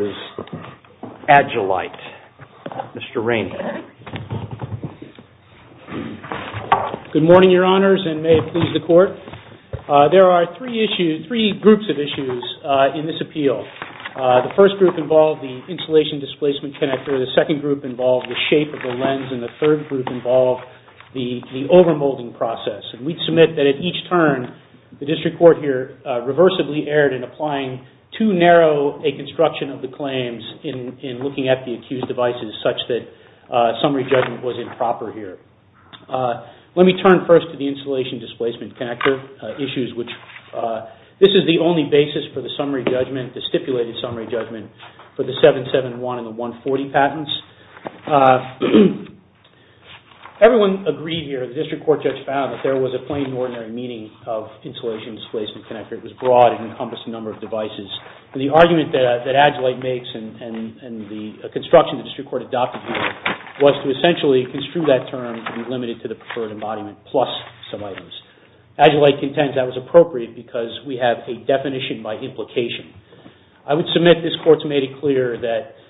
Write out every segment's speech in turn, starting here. Agilight, Mr. Rainhill. Good morning, Your Honors, and may it please the Court. There are three groups of issues in this appeal. The first group involved the insulation displacement connector, the second group involved the shape of the lens, and the third group involved the overmolding process. We submit that at each turn, the District Court here reversibly erred in applying too narrow a construction of the claims in looking at the accused devices such that summary judgment was improper here. Let me turn first to the insulation displacement connector issues, which this is the only basis for the stipulated summary judgment for the 771 and the 140 patents. Everyone agreed here, the District Court judge found, that there was a plain and ordinary meaning of insulation displacement connector. It was broad and encompassed a number of devices. The argument that Agilight makes and the construction the District Court adopted here was to essentially construe that term to be limited to the preferred embodiment plus some items. Agilight contends that was appropriate because we have a definition by implication. I would submit this Court's made it clear that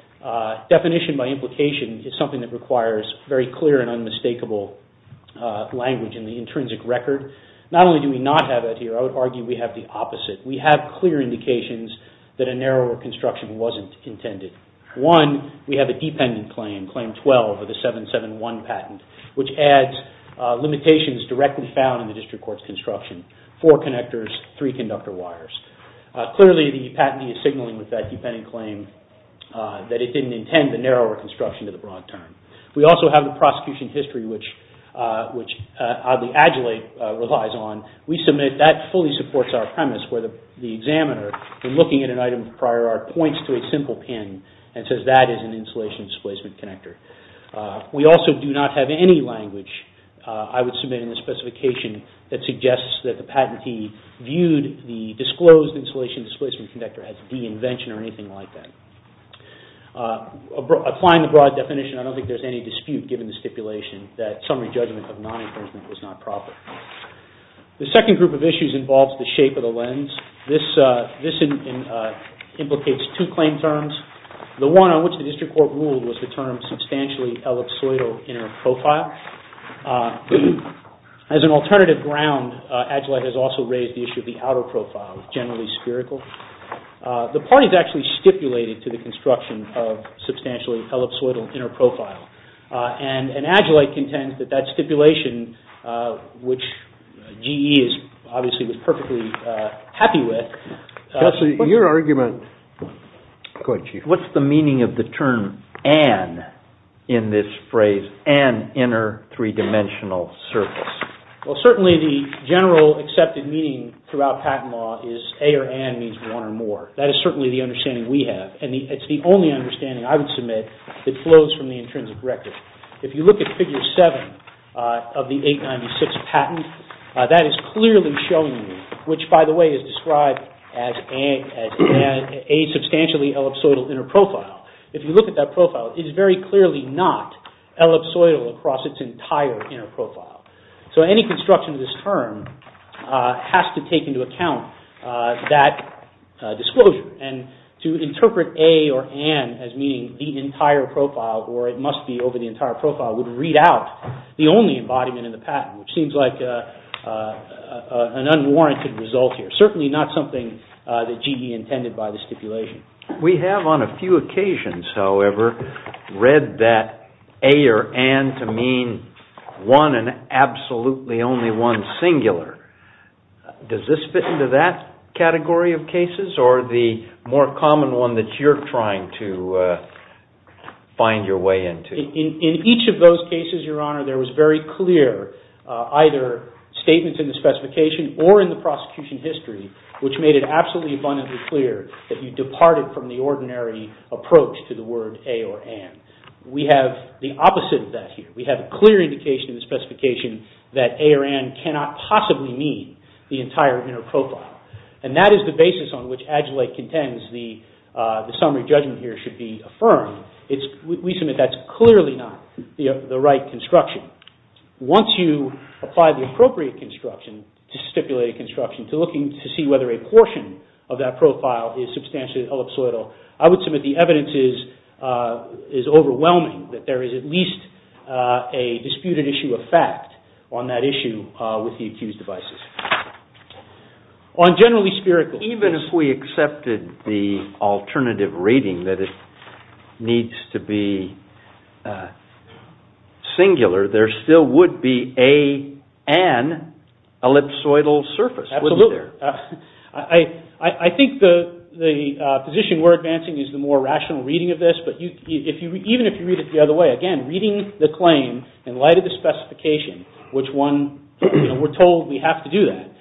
definition by implication is something that requires very clear and unmistakable language in the intrinsic record. Not only do we not have that here, I would argue we have the opposite. We have clear indications that a narrower construction wasn't intended. One, we have a dependent claim, claim 12 of the 771 patent, which adds limitations directly found in the District Court's construction. Four connectors, three conductor wires. Clearly the patentee is signaling with that dependent claim that it didn't intend the narrower construction to the broad term. We also have the prosecution history, which Agilight relies on. We submit that fully supports our premise where the examiner, in looking at an item prior art, points to a simple pin and says that is an insulation displacement connector. We also do not have any language I would submit in the specification that suggests that the patentee viewed the disclosed insulation displacement connector as the invention or anything like that. Applying the broad definition, I don't think there is any dispute given the stipulation that summary judgment of non-infringement was not proper. The second group of issues involves the shape of the lens. This implicates two claim terms. The one on which the District Court ruled was the term substantially ellipsoidal inner profile. As an alternative ground, Agilight has also raised the issue of the outer profile, generally spherical. The parties actually stipulated to the construction of substantially ellipsoidal inner profile. And Agilight contends that that stipulation, which GE obviously was perfectly happy with. Judge, your argument. Go ahead, Chief. What's the meaning of the term an in this phrase, an inner three-dimensional surface? Well, certainly the general accepted meaning throughout patent law is a or an means one or more. That is certainly the understanding we have. It's the only understanding I would submit that flows from the intrinsic record. If you look at Figure 7 of the 896 patent, that is clearly showing me, which by the way is described as a substantially ellipsoidal inner profile. If you look at that profile, it is very clearly not ellipsoidal across its entire inner profile. So any construction of this term has to take into account that disclosure. And to interpret a or an as meaning the entire profile or it must be over the entire profile would read out the only embodiment in the patent, which seems like an unwarranted result here. Certainly not something that GE intended by the stipulation. We have on a few occasions, however, read that a or an to mean one and absolutely only one singular. Does this fit into that category of cases or the more common one that you're trying to find your way into? In each of those cases, Your Honor, there was very clear either statements in the specification or in the prosecution history, which made it absolutely abundantly clear that you departed from the ordinary approach to the word a or an. We have the opposite of that here. We have a clear indication in the specification that a or an cannot possibly mean the entire inner profile. And that is the basis on which Adjulate contends the summary judgment here should be affirmed. We submit that's clearly not the right construction. Once you apply the appropriate construction to stipulate a construction, to looking to see whether a portion of that profile is substantially ellipsoidal, I would submit the evidence is overwhelming that there is at least a disputed issue of fact on that issue with the accused devices. On generally spherical cases. Even if we accepted the alternative reading that it needs to be singular, there still would be a an ellipsoidal surface, wouldn't there? Absolutely. I think the position we're advancing is the more rational reading of this. But even if you read it the other way, again, reading the claim in light of the specification, which we're told we have to do that,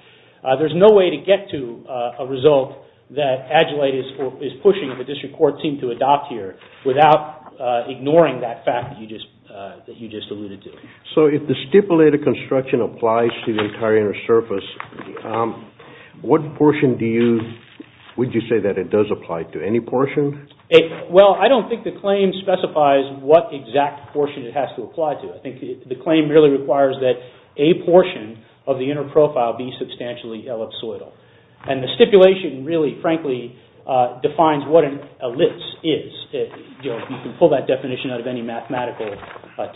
there's no way to get to a result that Adjulate is pushing the district court team to adopt here without ignoring that fact that you just alluded to. So if the stipulated construction applies to the entire inner surface, what portion would you say that it does apply to? Any portion? Well, I don't think the claim specifies what exact portion it has to apply to. I think the claim really requires that a portion of the inner profile be substantially ellipsoidal. And the stipulation really, frankly, defines what an ellipse is. You can pull that definition out of any mathematical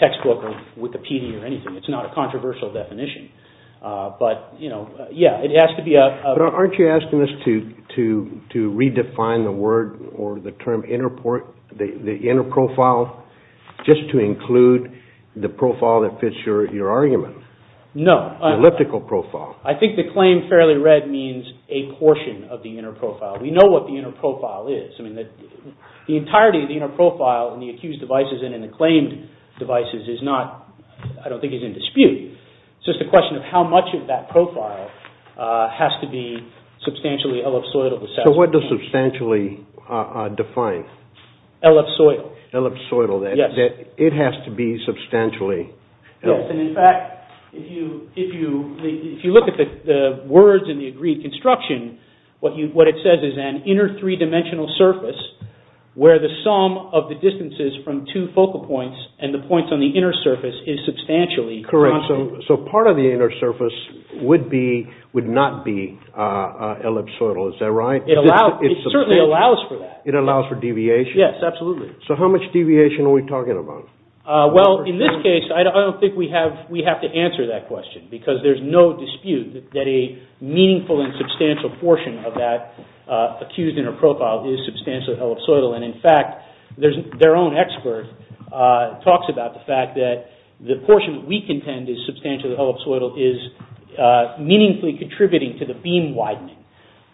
textbook or Wikipedia or anything. It's not a controversial definition. But aren't you asking us to redefine the word or the term inner profile just to include the profile that fits your argument? No. Elliptical profile. I think the claim fairly read means a portion of the inner profile. We know what the inner profile is. The entirety of the inner profile in the accused devices and in the claimed devices is not, I don't think, is in dispute. It's just a question of how much of that profile has to be substantially ellipsoidal. So what does substantially define? Ellipsoidal. Ellipsoidal. Yes. It has to be substantially ellipsoidal. Yes, and in fact, if you look at the words in the agreed construction, what it says is an inner three-dimensional surface where the sum of the distances from two focal points and the points on the inner surface is substantially constant. Correct. So part of the inner surface would not be ellipsoidal. Is that right? It certainly allows for that. It allows for deviation? Yes, absolutely. So how much deviation are we talking about? Well, in this case, I don't think we have to answer that question because there is no dispute that a meaningful and substantial portion of that accused inner profile is substantially ellipsoidal. And in fact, their own expert talks about the fact that the portion we contend is substantially ellipsoidal is meaningfully contributing to the beam widening.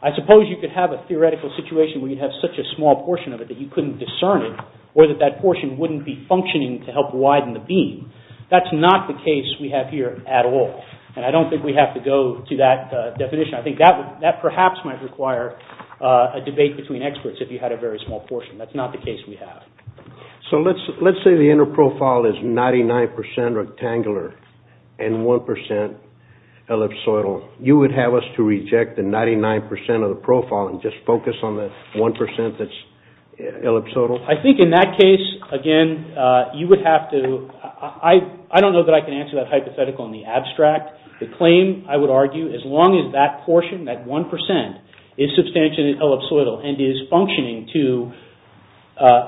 I suppose you could have a theoretical situation where you'd have such a small portion of it that you couldn't discern it or that that portion wouldn't be functioning to help widen the beam. That's not the case we have here at all. And I don't think we have to go to that definition. I think that perhaps might require a debate between experts if you had a very small portion. That's not the case we have. So let's say the inner profile is 99% rectangular and 1% ellipsoidal. You would have us to reject the 99% of the profile and just focus on the 1% that's ellipsoidal? I think in that case, again, you would have to – I don't know that I can answer that hypothetical in the abstract. The claim, I would argue, as long as that portion, that 1%, is substantially ellipsoidal and is functioning to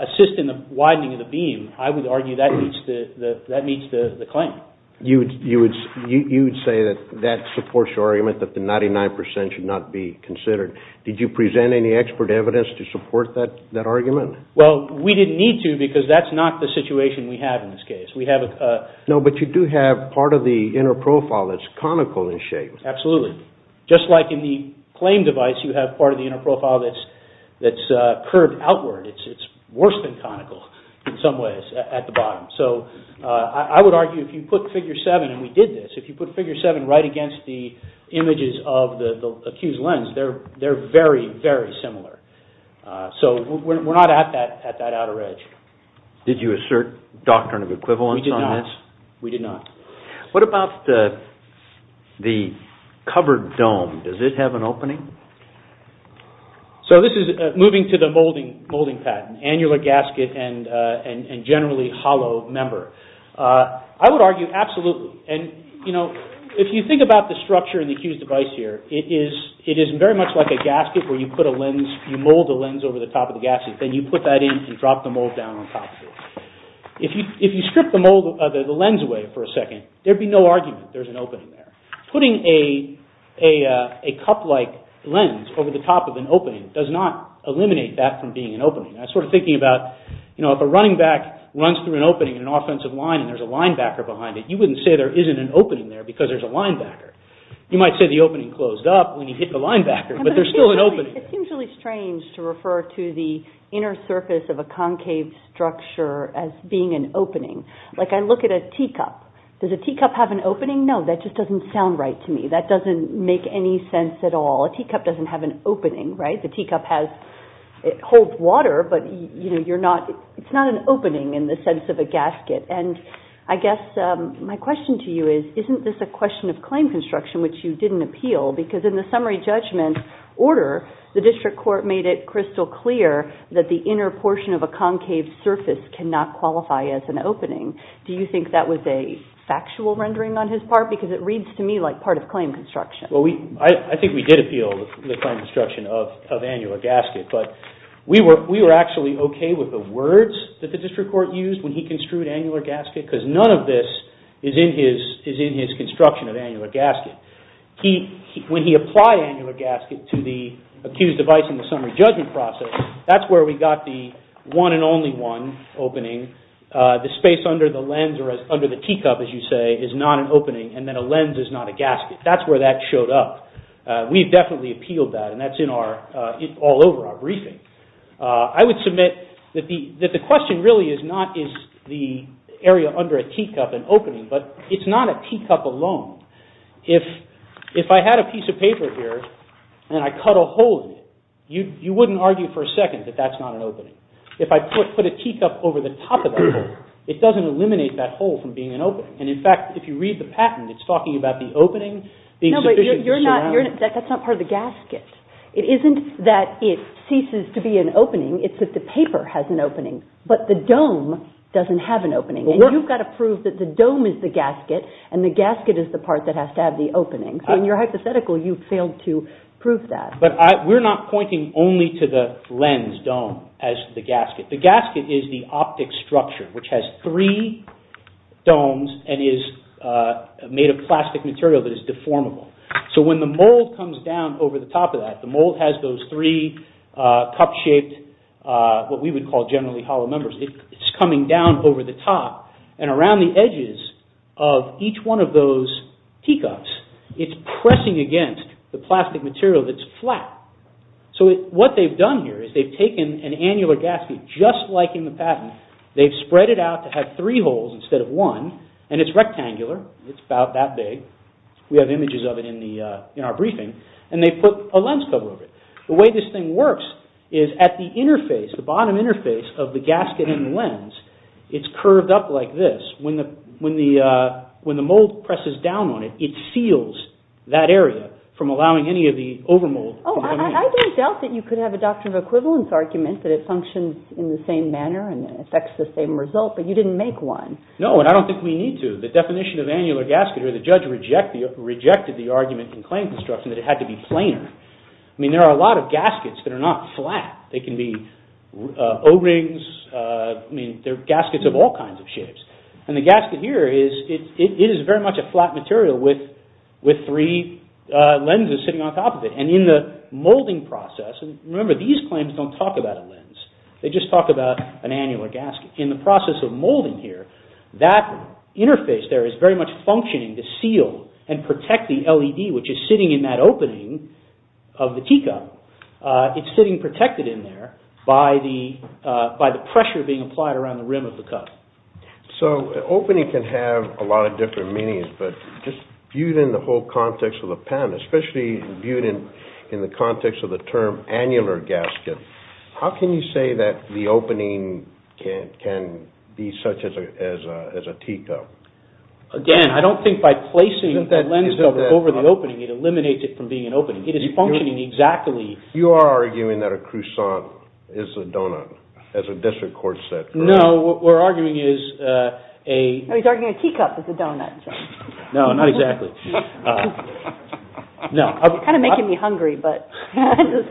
assist in the widening of the beam, I would argue that meets the claim. You would say that that supports your argument that the 99% should not be considered. Did you present any expert evidence to support that argument? Well, we didn't need to because that's not the situation we have in this case. No, but you do have part of the inner profile that's conical in shape. Absolutely. Just like in the claim device, you have part of the inner profile that's curved outward. It's worse than conical in some ways at the bottom. So I would argue if you put figure 7, and we did this, if you put figure 7 right against the images of the accused lens, they're very, very similar. So we're not at that outer edge. Did you assert doctrine of equivalence on this? We did not. What about the covered dome? Does it have an opening? So this is moving to the molding patent, annular gasket and generally hollow member. I would argue absolutely. If you think about the structure in the accused device here, it is very much like a gasket where you put a lens, you mold the lens over the top of the gasket, then you put that in and drop the mold down on top of it. If you strip the lens away for a second, there'd be no argument there's an opening there. Putting a cup-like lens over the top of an opening does not eliminate that from being an opening. I was sort of thinking about if a running back runs through an opening in an offensive line and there's a linebacker behind it, you wouldn't say there isn't an opening there because there's a linebacker. You might say the opening closed up when you hit the linebacker, but there's still an opening there. It seems really strange to refer to the inner surface of a concave structure as being an opening. Like I look at a teacup. Does a teacup have an opening? No, that just doesn't sound right to me. That doesn't make any sense at all. A teacup doesn't have an opening, right? The teacup holds water, but it's not an opening in the sense of a gasket. And I guess my question to you is, isn't this a question of claim construction which you didn't appeal? Because in the summary judgment order, the district court made it crystal clear that the inner portion of a concave surface cannot qualify as an opening. Do you think that was a factual rendering on his part? Because it reads to me like part of claim construction. I think we did appeal the claim construction of annular gasket, but we were actually okay with the words that the district court used when he construed annular gasket because none of this is in his construction of annular gasket. When he applied annular gasket to the accused device in the summary judgment process, that's where we got the one and only one opening. The space under the lens or under the teacup, as you say, is not an opening, and then a lens is not a gasket. That's where that showed up. We've definitely appealed that, and that's all over our briefing. I would submit that the question really is not is the area under a teacup an opening, but it's not a teacup alone. If I had a piece of paper here and I cut a hole in it, you wouldn't argue for a second that that's not an opening. If I put a teacup over the top of that hole, it doesn't eliminate that hole from being an opening. In fact, if you read the patent, it's talking about the opening being sufficient to surround it. No, but that's not part of the gasket. It isn't that it ceases to be an opening. It's that the paper has an opening, but the dome doesn't have an opening. You've got to prove that the dome is the gasket, and the gasket is the part that has to have the opening. In your hypothetical, you failed to prove that. We're not pointing only to the lens dome as the gasket. The gasket is the optic structure, which has three domes and is made of plastic material that is deformable. So when the mold comes down over the top of that, the mold has those three cup-shaped what we would call generally hollow numbers. It's coming down over the top, and around the edges of each one of those teacups, it's pressing against the plastic material that's flat. So what they've done here is they've taken an annular gasket just like in the patent. They've spread it out to have three holes instead of one, and it's rectangular. It's about that big. We have images of it in our briefing, and they've put a lens cover over it. The way this thing works is at the interface, the bottom interface of the gasket and lens, it's curved up like this. When the mold presses down on it, it seals that area from allowing any of the overmold to come in. Oh, I didn't doubt that you could have a doctrine of equivalence argument that it functions in the same manner and affects the same result, but you didn't make one. No, and I don't think we need to. The definition of annular gasket, or the judge rejected the argument in claim construction that it had to be planar. I mean, there are a lot of gaskets that are not flat. They can be O-rings. I mean, there are gaskets of all kinds of shapes. And the gasket here is, it is very much a flat material with three lenses sitting on top of it. And in the molding process, and remember, these claims don't talk about a lens. They just talk about an annular gasket. In the process of molding here, that interface there is very much functioning to seal and protect the LED, which is sitting in that opening of the teacup. It's sitting protected in there by the pressure being applied around the rim of the cup. So, opening can have a lot of different meanings, but just viewed in the whole context of the pen, especially viewed in the context of the term annular gasket, how can you say that the opening can be such as a teacup? Again, I don't think by placing that lens over the opening, it eliminates it from being an opening. It is functioning exactly... You are arguing that a croissant is a donut as a district court said. No, what we're arguing is a... He's arguing a teacup is a donut. No, not exactly. Kind of making me hungry, but... The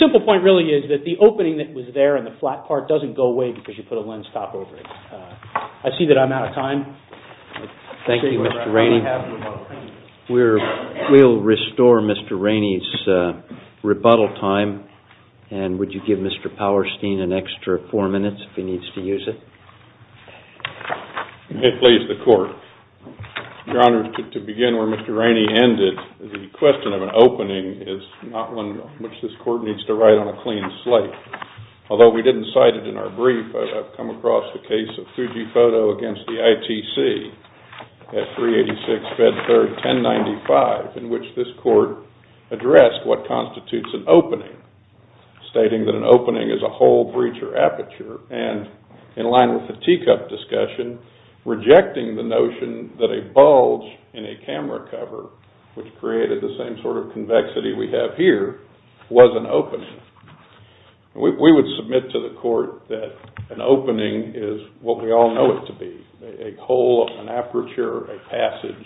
simple point really is that the opening that was there in the flat part doesn't go away because you put a lens top over it. I see that I'm out of time. Thank you, Mr. Rainey. We'll restore Mr. Rainey's rebuttal time, and would you give Mr. Powerstein an extra four minutes if he needs to use it? May it please the Court. Your Honor, to begin where Mr. Rainey ended, the question of an opening is not one which this Court needs to write on a clean slate. Although we didn't cite it in our brief, I've come across the case of Fujifoto against the ITC at 386 Bedford 1095, in which this Court addressed what constitutes an opening, stating that an opening is a hole, breach, or aperture, and in line with the teacup discussion, rejecting the notion that a bulge in a camera cover, which created the same sort of convexity we have here, was an opening. We would submit to the Court that an opening is what we all know it to be, a hole, an aperture, a passage,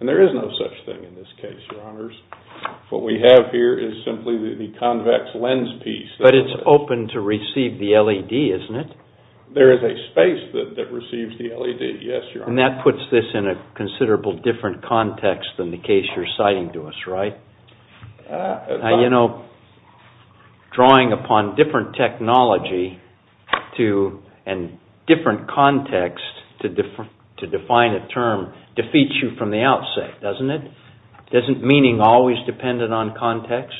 and there is no such thing in this case, Your Honors. What we have here is simply the convex lens piece. But it's open to receive the LED, isn't it? There is a space that receives the LED, yes, Your Honor. And that puts this in a considerably different context than the case you're citing to us, right? Now, you know, drawing upon different technology and different context to define a term defeats you from the outset, doesn't it? Doesn't meaning always depend on context?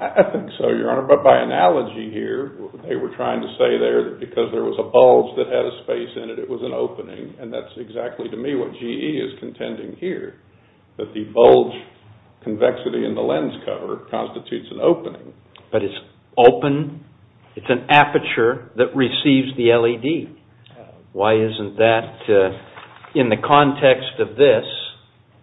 I think so, Your Honor. But by analogy here, they were trying to say there that because there was a bulge that had a space in it, it was an opening. And that's exactly, to me, what GE is contending here, that the bulge convexity in the lens cover constitutes an opening. But it's open, it's an aperture that receives the LED. Why isn't that, in the context of this,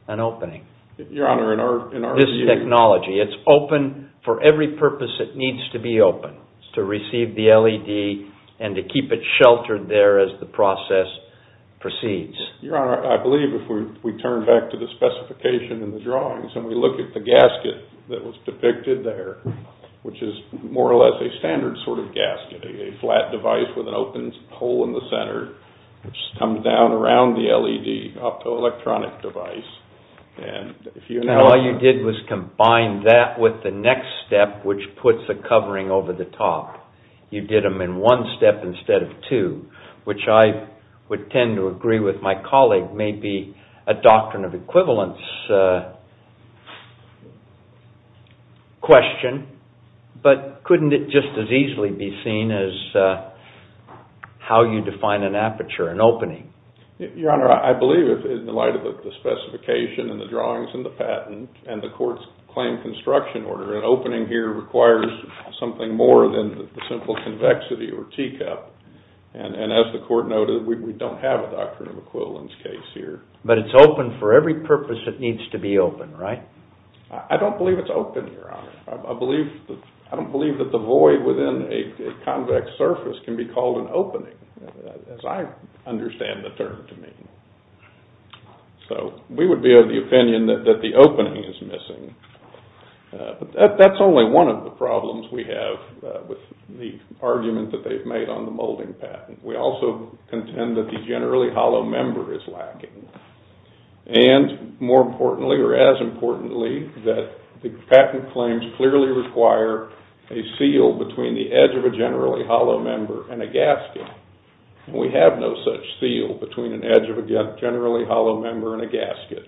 an opening? Your Honor, in our view... This technology, it's open for every purpose it needs to be open, to receive the LED and to keep it sheltered there as the process proceeds. Your Honor, I believe if we turn back to the specification in the drawings and we look at the gasket that was depicted there, which is more or less a standard sort of gasket, a flat device with an open hole in the center, which comes down around the LED optoelectronic device. And all you did was combine that with the next step, which puts a covering over the top. You did them in one step instead of two, which I would tend to agree with my colleague may be a doctrine of equivalence question. But couldn't it just as easily be seen as how you define an aperture, an opening? Your Honor, I believe in the light of the specification and the drawings and the patent and the court's claim construction order, an opening here requires something more than the simple convexity or teacup. And as the court noted, we don't have a doctrine of equivalence case here. But it's open for every purpose it needs to be open, right? I don't believe it's open, Your Honor. I don't believe that the void within a convex surface can be called an opening, as I understand the term to mean. So we would be of the opinion that the opening is missing. But that's only one of the problems we have with the argument that they've made on the molding patent. We also contend that the generally hollow member is lacking. And more importantly, or as importantly, that the patent claims clearly require a seal between the edge of a generally hollow member and a gasket. We have no such seal between an edge of a generally hollow member and a gasket.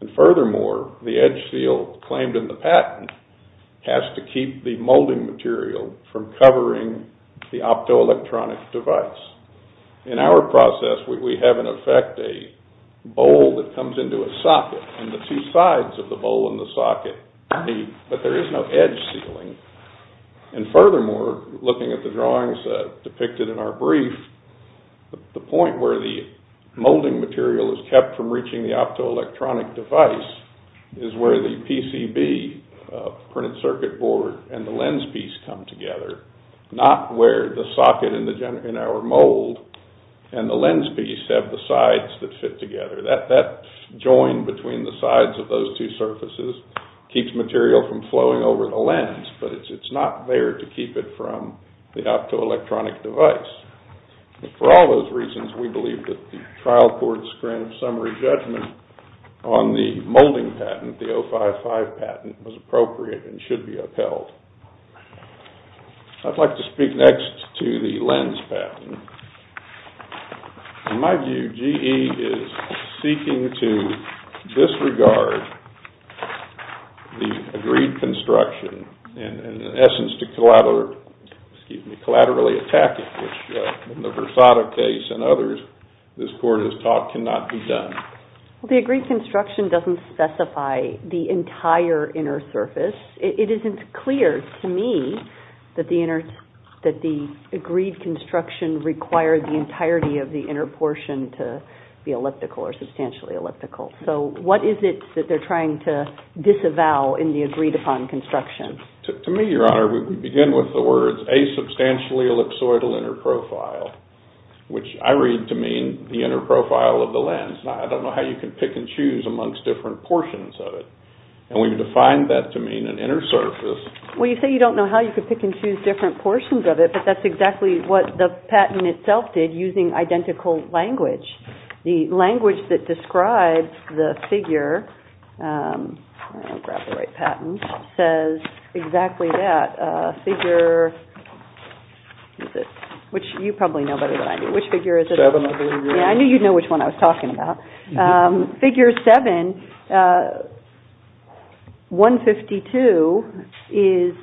And furthermore, the edge seal claimed in the patent has to keep the molding material from covering the optoelectronic device. In our process, we have in effect a bowl that comes into a socket. And the two sides of the bowl and the socket meet. But there is no edge sealing. And furthermore, looking at the drawings depicted in our brief, the point where the molding material is kept from reaching the optoelectronic device is where the PCB, printed circuit board, and the lens piece come together, not where the socket in our mold and the lens piece have the sides that fit together. That join between the sides of those two surfaces keeps material from flowing over the lens, but it's not there to keep it from the optoelectronic device. For all those reasons, we believe that the trial courts grant a summary judgment on the molding patent, the 055 patent, was appropriate and should be upheld. I'd like to speak next to the lens patent. In my view, GE is seeking to disregard the agreed construction and in essence to collaterally attack it, which in the Versada case and others, this court has taught cannot be done. The agreed construction doesn't specify the entire inner surface. It isn't clear to me that the agreed construction requires the entirety of the inner portion to be elliptical or substantially elliptical. So what is it that they're trying to disavow in the agreed upon construction? To me, Your Honor, we begin with the words asubstantially ellipsoidal inner profile, which I read to mean the inner profile of the lens. I don't know how you can pick and choose amongst different portions of it. And we've defined that to mean an inner surface. Well, you say you don't know how you can pick and choose different portions of it, but that's exactly what the patent itself did using identical language. The language that describes the figure, I'll grab the right patent, says exactly that, figure, which you probably know better than I do. Which figure is it? Seven, I believe. Yeah, I knew you'd know which one I was talking about. Figure seven, 152, is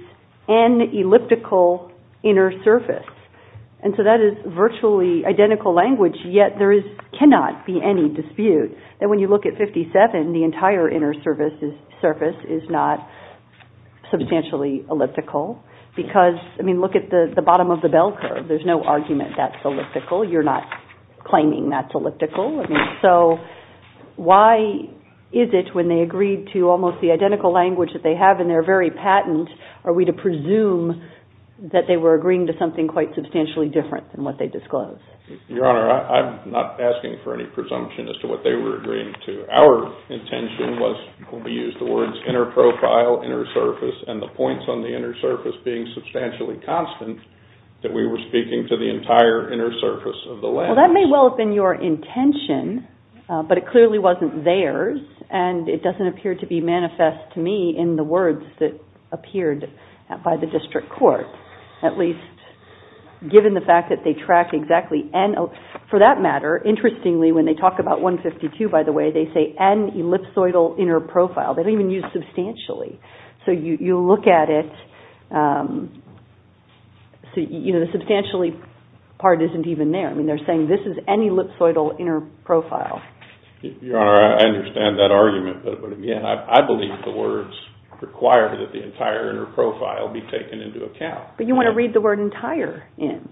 an elliptical inner surface. And so that is virtually identical language, yet there cannot be any dispute that when you look at 57, the entire inner surface is not substantially elliptical. Because, I mean, look at the bottom of the bell curve. There's no argument that's elliptical. You're not claiming that's elliptical. So why is it when they agreed to almost the identical language that they have in their very patent, are we to presume that they were agreeing to something quite substantially different than what they disclosed? Your Honor, I'm not asking for any presumption as to what they were agreeing to. Our intention was, will be used, the words inner profile, inner surface, and the points on the inner surface being substantially constant that we were speaking to the entire inner surface of the lens. Well, that may well have been your intention, but it clearly wasn't theirs, and it doesn't appear to be manifest to me in the words that appeared by the district court, at least given the fact that they tracked exactly N. For that matter, interestingly, when they talk about 152, by the way, they say N ellipsoidal inner profile. They don't even use substantially. So you look at it, you know, the substantially part isn't even there. I mean, they're saying this is N ellipsoidal inner profile. Your Honor, I understand that argument, but, again, I believe the words require that the entire inner profile be taken into account. But you want to read the word entire in.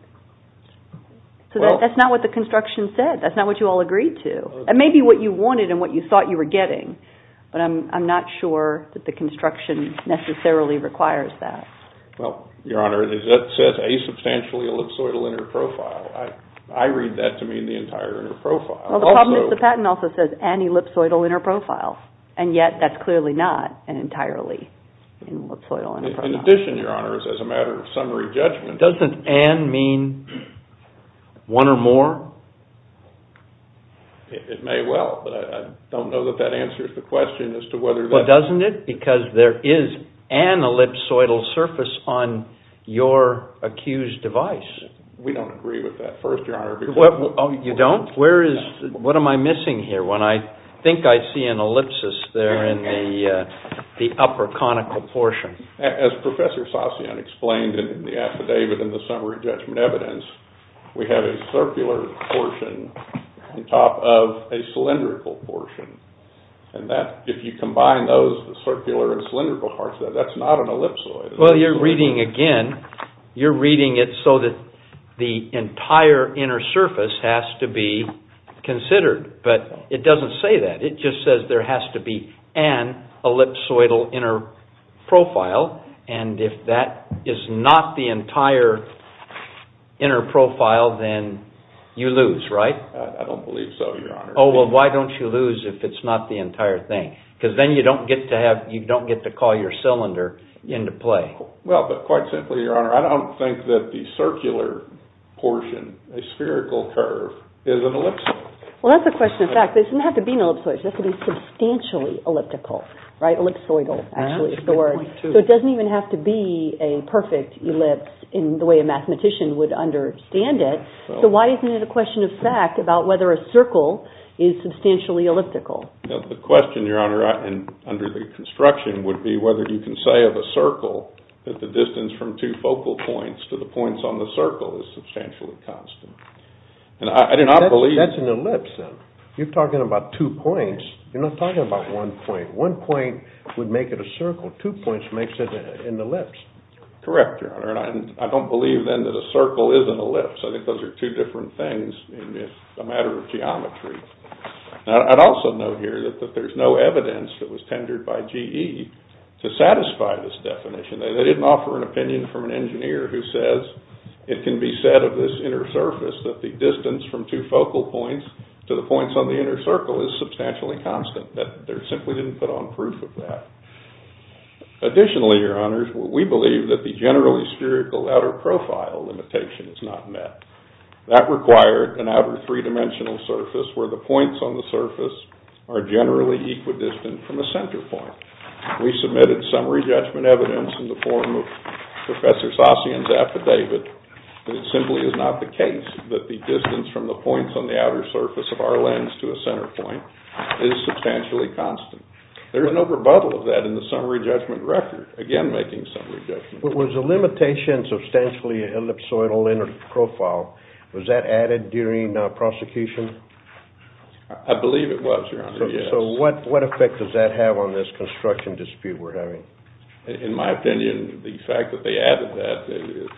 So that's not what the construction said. That's not what you all agreed to. It may be what you wanted and what you thought you were getting, but I'm not sure that the construction necessarily requires that. Well, Your Honor, it says a substantially ellipsoidal inner profile. I read that to mean the entire inner profile. Well, the problem is the patent also says N ellipsoidal inner profile, and yet that's clearly not an entirely ellipsoidal inner profile. In addition, Your Honor, as a matter of summary judgment. Doesn't N mean one or more? It may well, but I don't know that that answers the question as to whether that. Well, doesn't it? Because there is N ellipsoidal surface on your accused device. We don't agree with that first, Your Honor. You don't? What am I missing here? I think I see an ellipsis there in the upper conical portion. As Professor Sassion explained in the affidavit in the summary judgment evidence, we have a circular portion on top of a cylindrical portion. If you combine those, the circular and cylindrical parts, that's not an ellipsoid. Well, you're reading again. You're reading it so that the entire inner surface has to be considered, but it doesn't say that. It just says there has to be N ellipsoidal inner profile, and if that is not the entire inner profile, then you lose, right? I don't believe so, Your Honor. Oh, well, why don't you lose if it's not the entire thing? Because then you don't get to call your cylinder into play. Well, but quite simply, Your Honor, I don't think that the circular portion, a spherical curve, is an ellipsoid. Well, that's a question of fact. It doesn't have to be an ellipsoid. It has to be substantially elliptical, right? Ellipsoidal, actually, is the word. So it doesn't even have to be a perfect ellipse in the way a mathematician would understand it. So why isn't it a question of fact about whether a circle is substantially elliptical? The question, Your Honor, under the construction would be whether you can say of a circle that the distance from two focal points to the points on the circle is substantially constant. That's an ellipse, then. You're talking about two points. You're not talking about one point. One point would make it a circle. Two points makes it an ellipse. Correct, Your Honor, and I don't believe, then, that a circle is an ellipse. I think those are two different things in the matter of geometry. Now, I'd also note here that there's no evidence that was tendered by GE to satisfy this definition. They didn't offer an opinion from an engineer who says it can be said of this inner surface that the distance from two focal points to the points on the inner circle is substantially constant. They simply didn't put on proof of that. Additionally, Your Honors, we believe that the generally spherical outer profile limitation is not met. That required an outer three-dimensional surface where the points on the surface are generally equidistant from a center point. We submitted summary judgment evidence in the form of Professor Sasian's affidavit that it simply is not the case that the distance from the points on the outer surface of our lens to a center point is substantially constant. There is no rebuttal of that in the summary judgment record, again making summary judgments. Was the limitation substantially ellipsoidal inner profile, was that added during prosecution? I believe it was, Your Honor, yes. So what effect does that have on this construction dispute we're having? In my opinion, the fact that they added that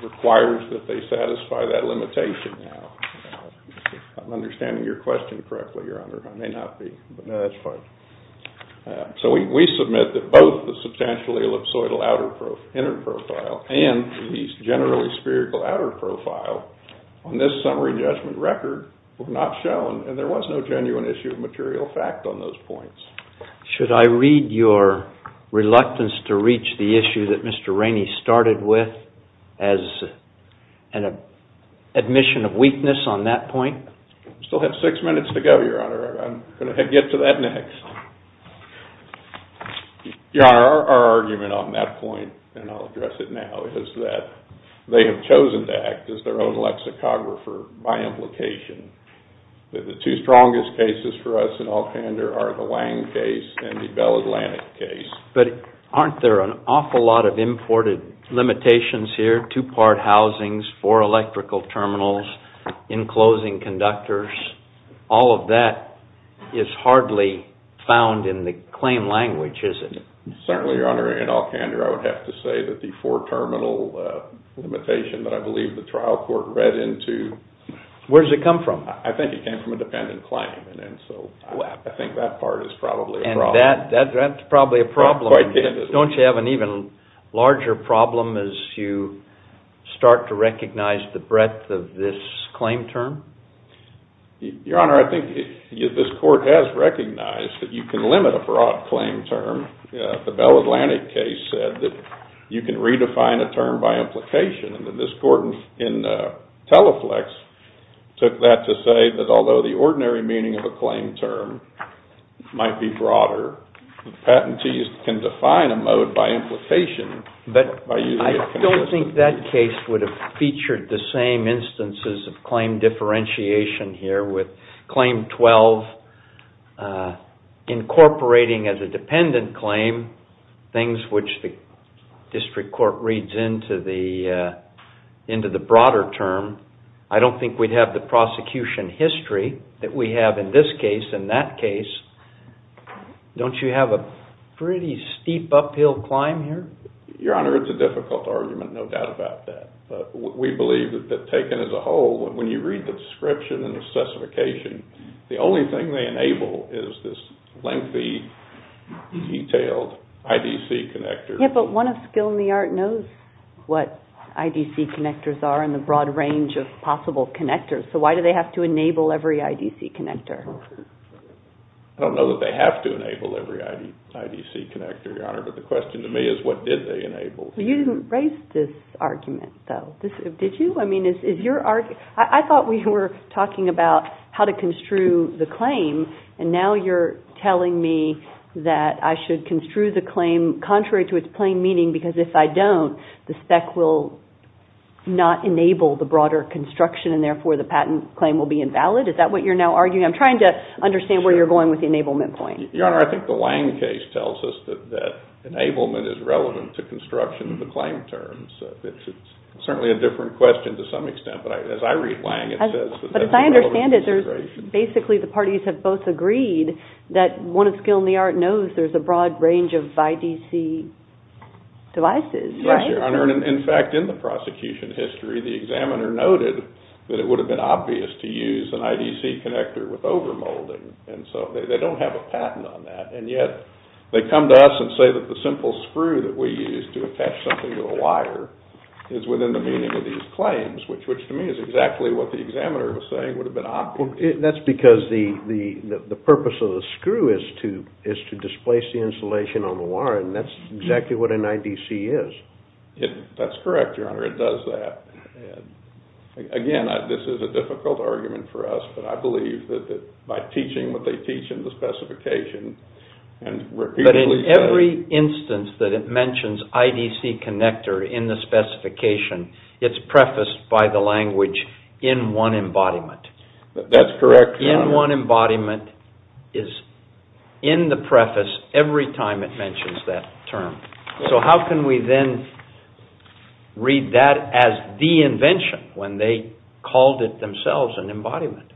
requires that they satisfy that limitation now. I'm understanding your question correctly, Your Honor. I may not be. No, that's fine. So we submit that both the substantially ellipsoidal inner profile and the generally spherical outer profile on this summary judgment record were not shown, and there was no genuine issue of material fact on those points. Should I read your reluctance to reach the issue that Mr. Rainey started with as an admission of weakness on that point? We still have six minutes to go, Your Honor. I'm going to get to that next. Your Honor, our argument on that point, and I'll address it now, is that they have chosen to act as their own lexicographer by implication. The two strongest cases for us in Allpander are the Wang case and the Bell Atlantic case. But aren't there an awful lot of imported limitations here? Two-part housings, four electrical terminals, enclosing conductors, all of that is hardly found in the claim language, is it? Certainly, Your Honor. In Allpander, I would have to say that the four-terminal limitation that I believe the trial court read into... Where does it come from? I think it came from a dependent claim, and so I think that part is probably a problem. And that's probably a problem. Quite candidly. Don't you have an even larger problem as you start to recognize the breadth of this claim term? Your Honor, I think this court has recognized that you can limit a broad claim term. The Bell Atlantic case said that you can redefine a term by implication, and this court in Teleflex took that to say that although the ordinary meaning of a claim term might be broader, the patentees can define a mode by implication. But I don't think that case would have featured the same instances of claim differentiation here with Claim 12 incorporating as a dependent claim things which the district court reads into the broader term. I don't think we'd have the prosecution history that we have in this case and that case. Don't you have a pretty steep uphill climb here? Your Honor, it's a difficult argument, no doubt about that. But we believe that taken as a whole, when you read the description and the specification, the only thing they enable is this lengthy, detailed IDC connector. Yeah, but one of skill in the art knows what IDC connectors are and the broad range of possible connectors. So why do they have to enable every IDC connector? I don't know that they have to enable every IDC connector, Your Honor, but the question to me is what did they enable? You didn't raise this argument, though, did you? I thought we were talking about how to construe the claim, and now you're telling me that I should construe the claim contrary to its plain meaning because if I don't, the spec will not enable the broader construction, and therefore the patent claim will be invalid? Is that what you're now arguing? I'm trying to understand where you're going with the enablement point. Your Honor, I think the Lange case tells us that enablement is relevant to construction of the claim terms. It's certainly a different question to some extent, but as I read Lange, it says that that's a relevant consideration. But as I understand it, basically the parties have both agreed that one of skill in the art knows there's a broad range of IDC devices, right? Yes, Your Honor, and in fact, in the prosecution history, the examiner noted that it would have been obvious to use an IDC connector with overmolding, and so they don't have a patent on that, and yet they come to us and say that the simple screw that we use to attach something to a wire is within the meaning of these claims, which to me is exactly what the examiner was saying would have been obvious. That's because the purpose of the screw is to displace the insulation on the wire, and that's exactly what an IDC is. That's correct, Your Honor, it does that. Again, this is a difficult argument for us, but I believe that by teaching what they teach in the specification, and repeatedly said... But in every instance that it mentions IDC connector in the specification, it's prefaced by the language, in one embodiment. That's correct, Your Honor. In one embodiment is in the preface every time it mentions that term. So how can we then read that as the invention when they called it themselves an embodiment?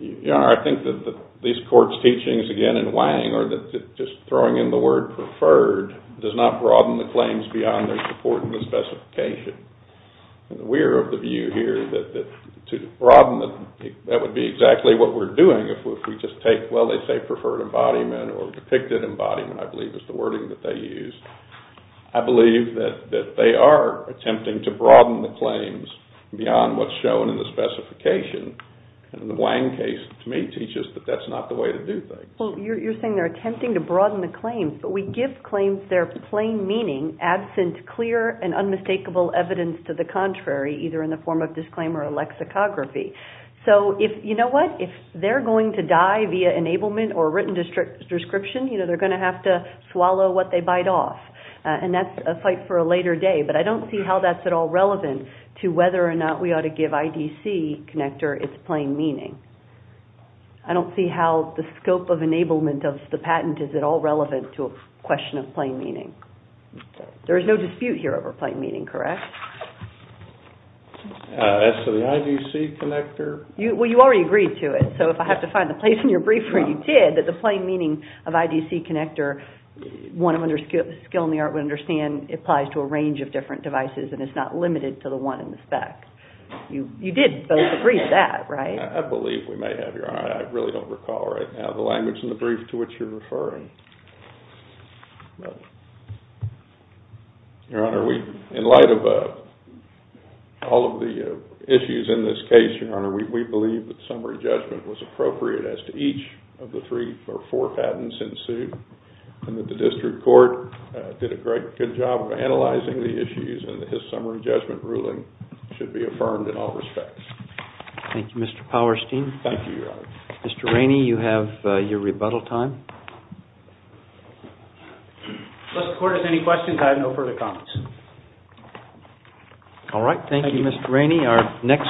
Your Honor, I think that these courts' teachings, again in Wang, are that just throwing in the word preferred does not broaden the claims beyond their support in the specification. We're of the view here that to broaden them, that would be exactly what we're doing if we just take, well, they say preferred embodiment or depicted embodiment, I believe is the wording that they used. I believe that they are attempting to broaden the claims beyond what's shown in the specification. And the Wang case, to me, teaches that that's not the way to do things. Well, you're saying they're attempting to broaden the claims, but we give claims their plain meaning absent clear and unmistakable evidence to the contrary, either in the form of disclaimer or lexicography. So you know what? If they're going to die via enablement or written description, they're going to have to swallow what they bite off. And that's a fight for a later day. But I don't see how that's at all relevant to whether or not we ought to give IDC connector its plain meaning. I don't see how the scope of enablement of the patent is at all relevant to a question of plain meaning. There is no dispute here over plain meaning, correct? As to the IDC connector? Well, you already agreed to it. So if I have to find the place in your brief where you did, that the plain meaning of IDC connector, one of skill in the art would understand, applies to a range of different devices and is not limited to the one in the spec. You did both agree to that, right? I believe we may have, Your Honor. I really don't recall right now the language in the brief to which you're referring. Your Honor, in light of all of the issues in this case, Your Honor, we believe that summary judgment was appropriate as to each of the three or four patents in suit and that the district court did a great good job of analyzing the issues and that his summary judgment ruling should be affirmed in all respects. Thank you, Mr. Powerstein. Thank you, Your Honor. Mr. Rainey, you have your rebuttal time. Mr. Cordes, any questions? I have no further comments. All right. Thank you, Mr. Rainey. Thank you.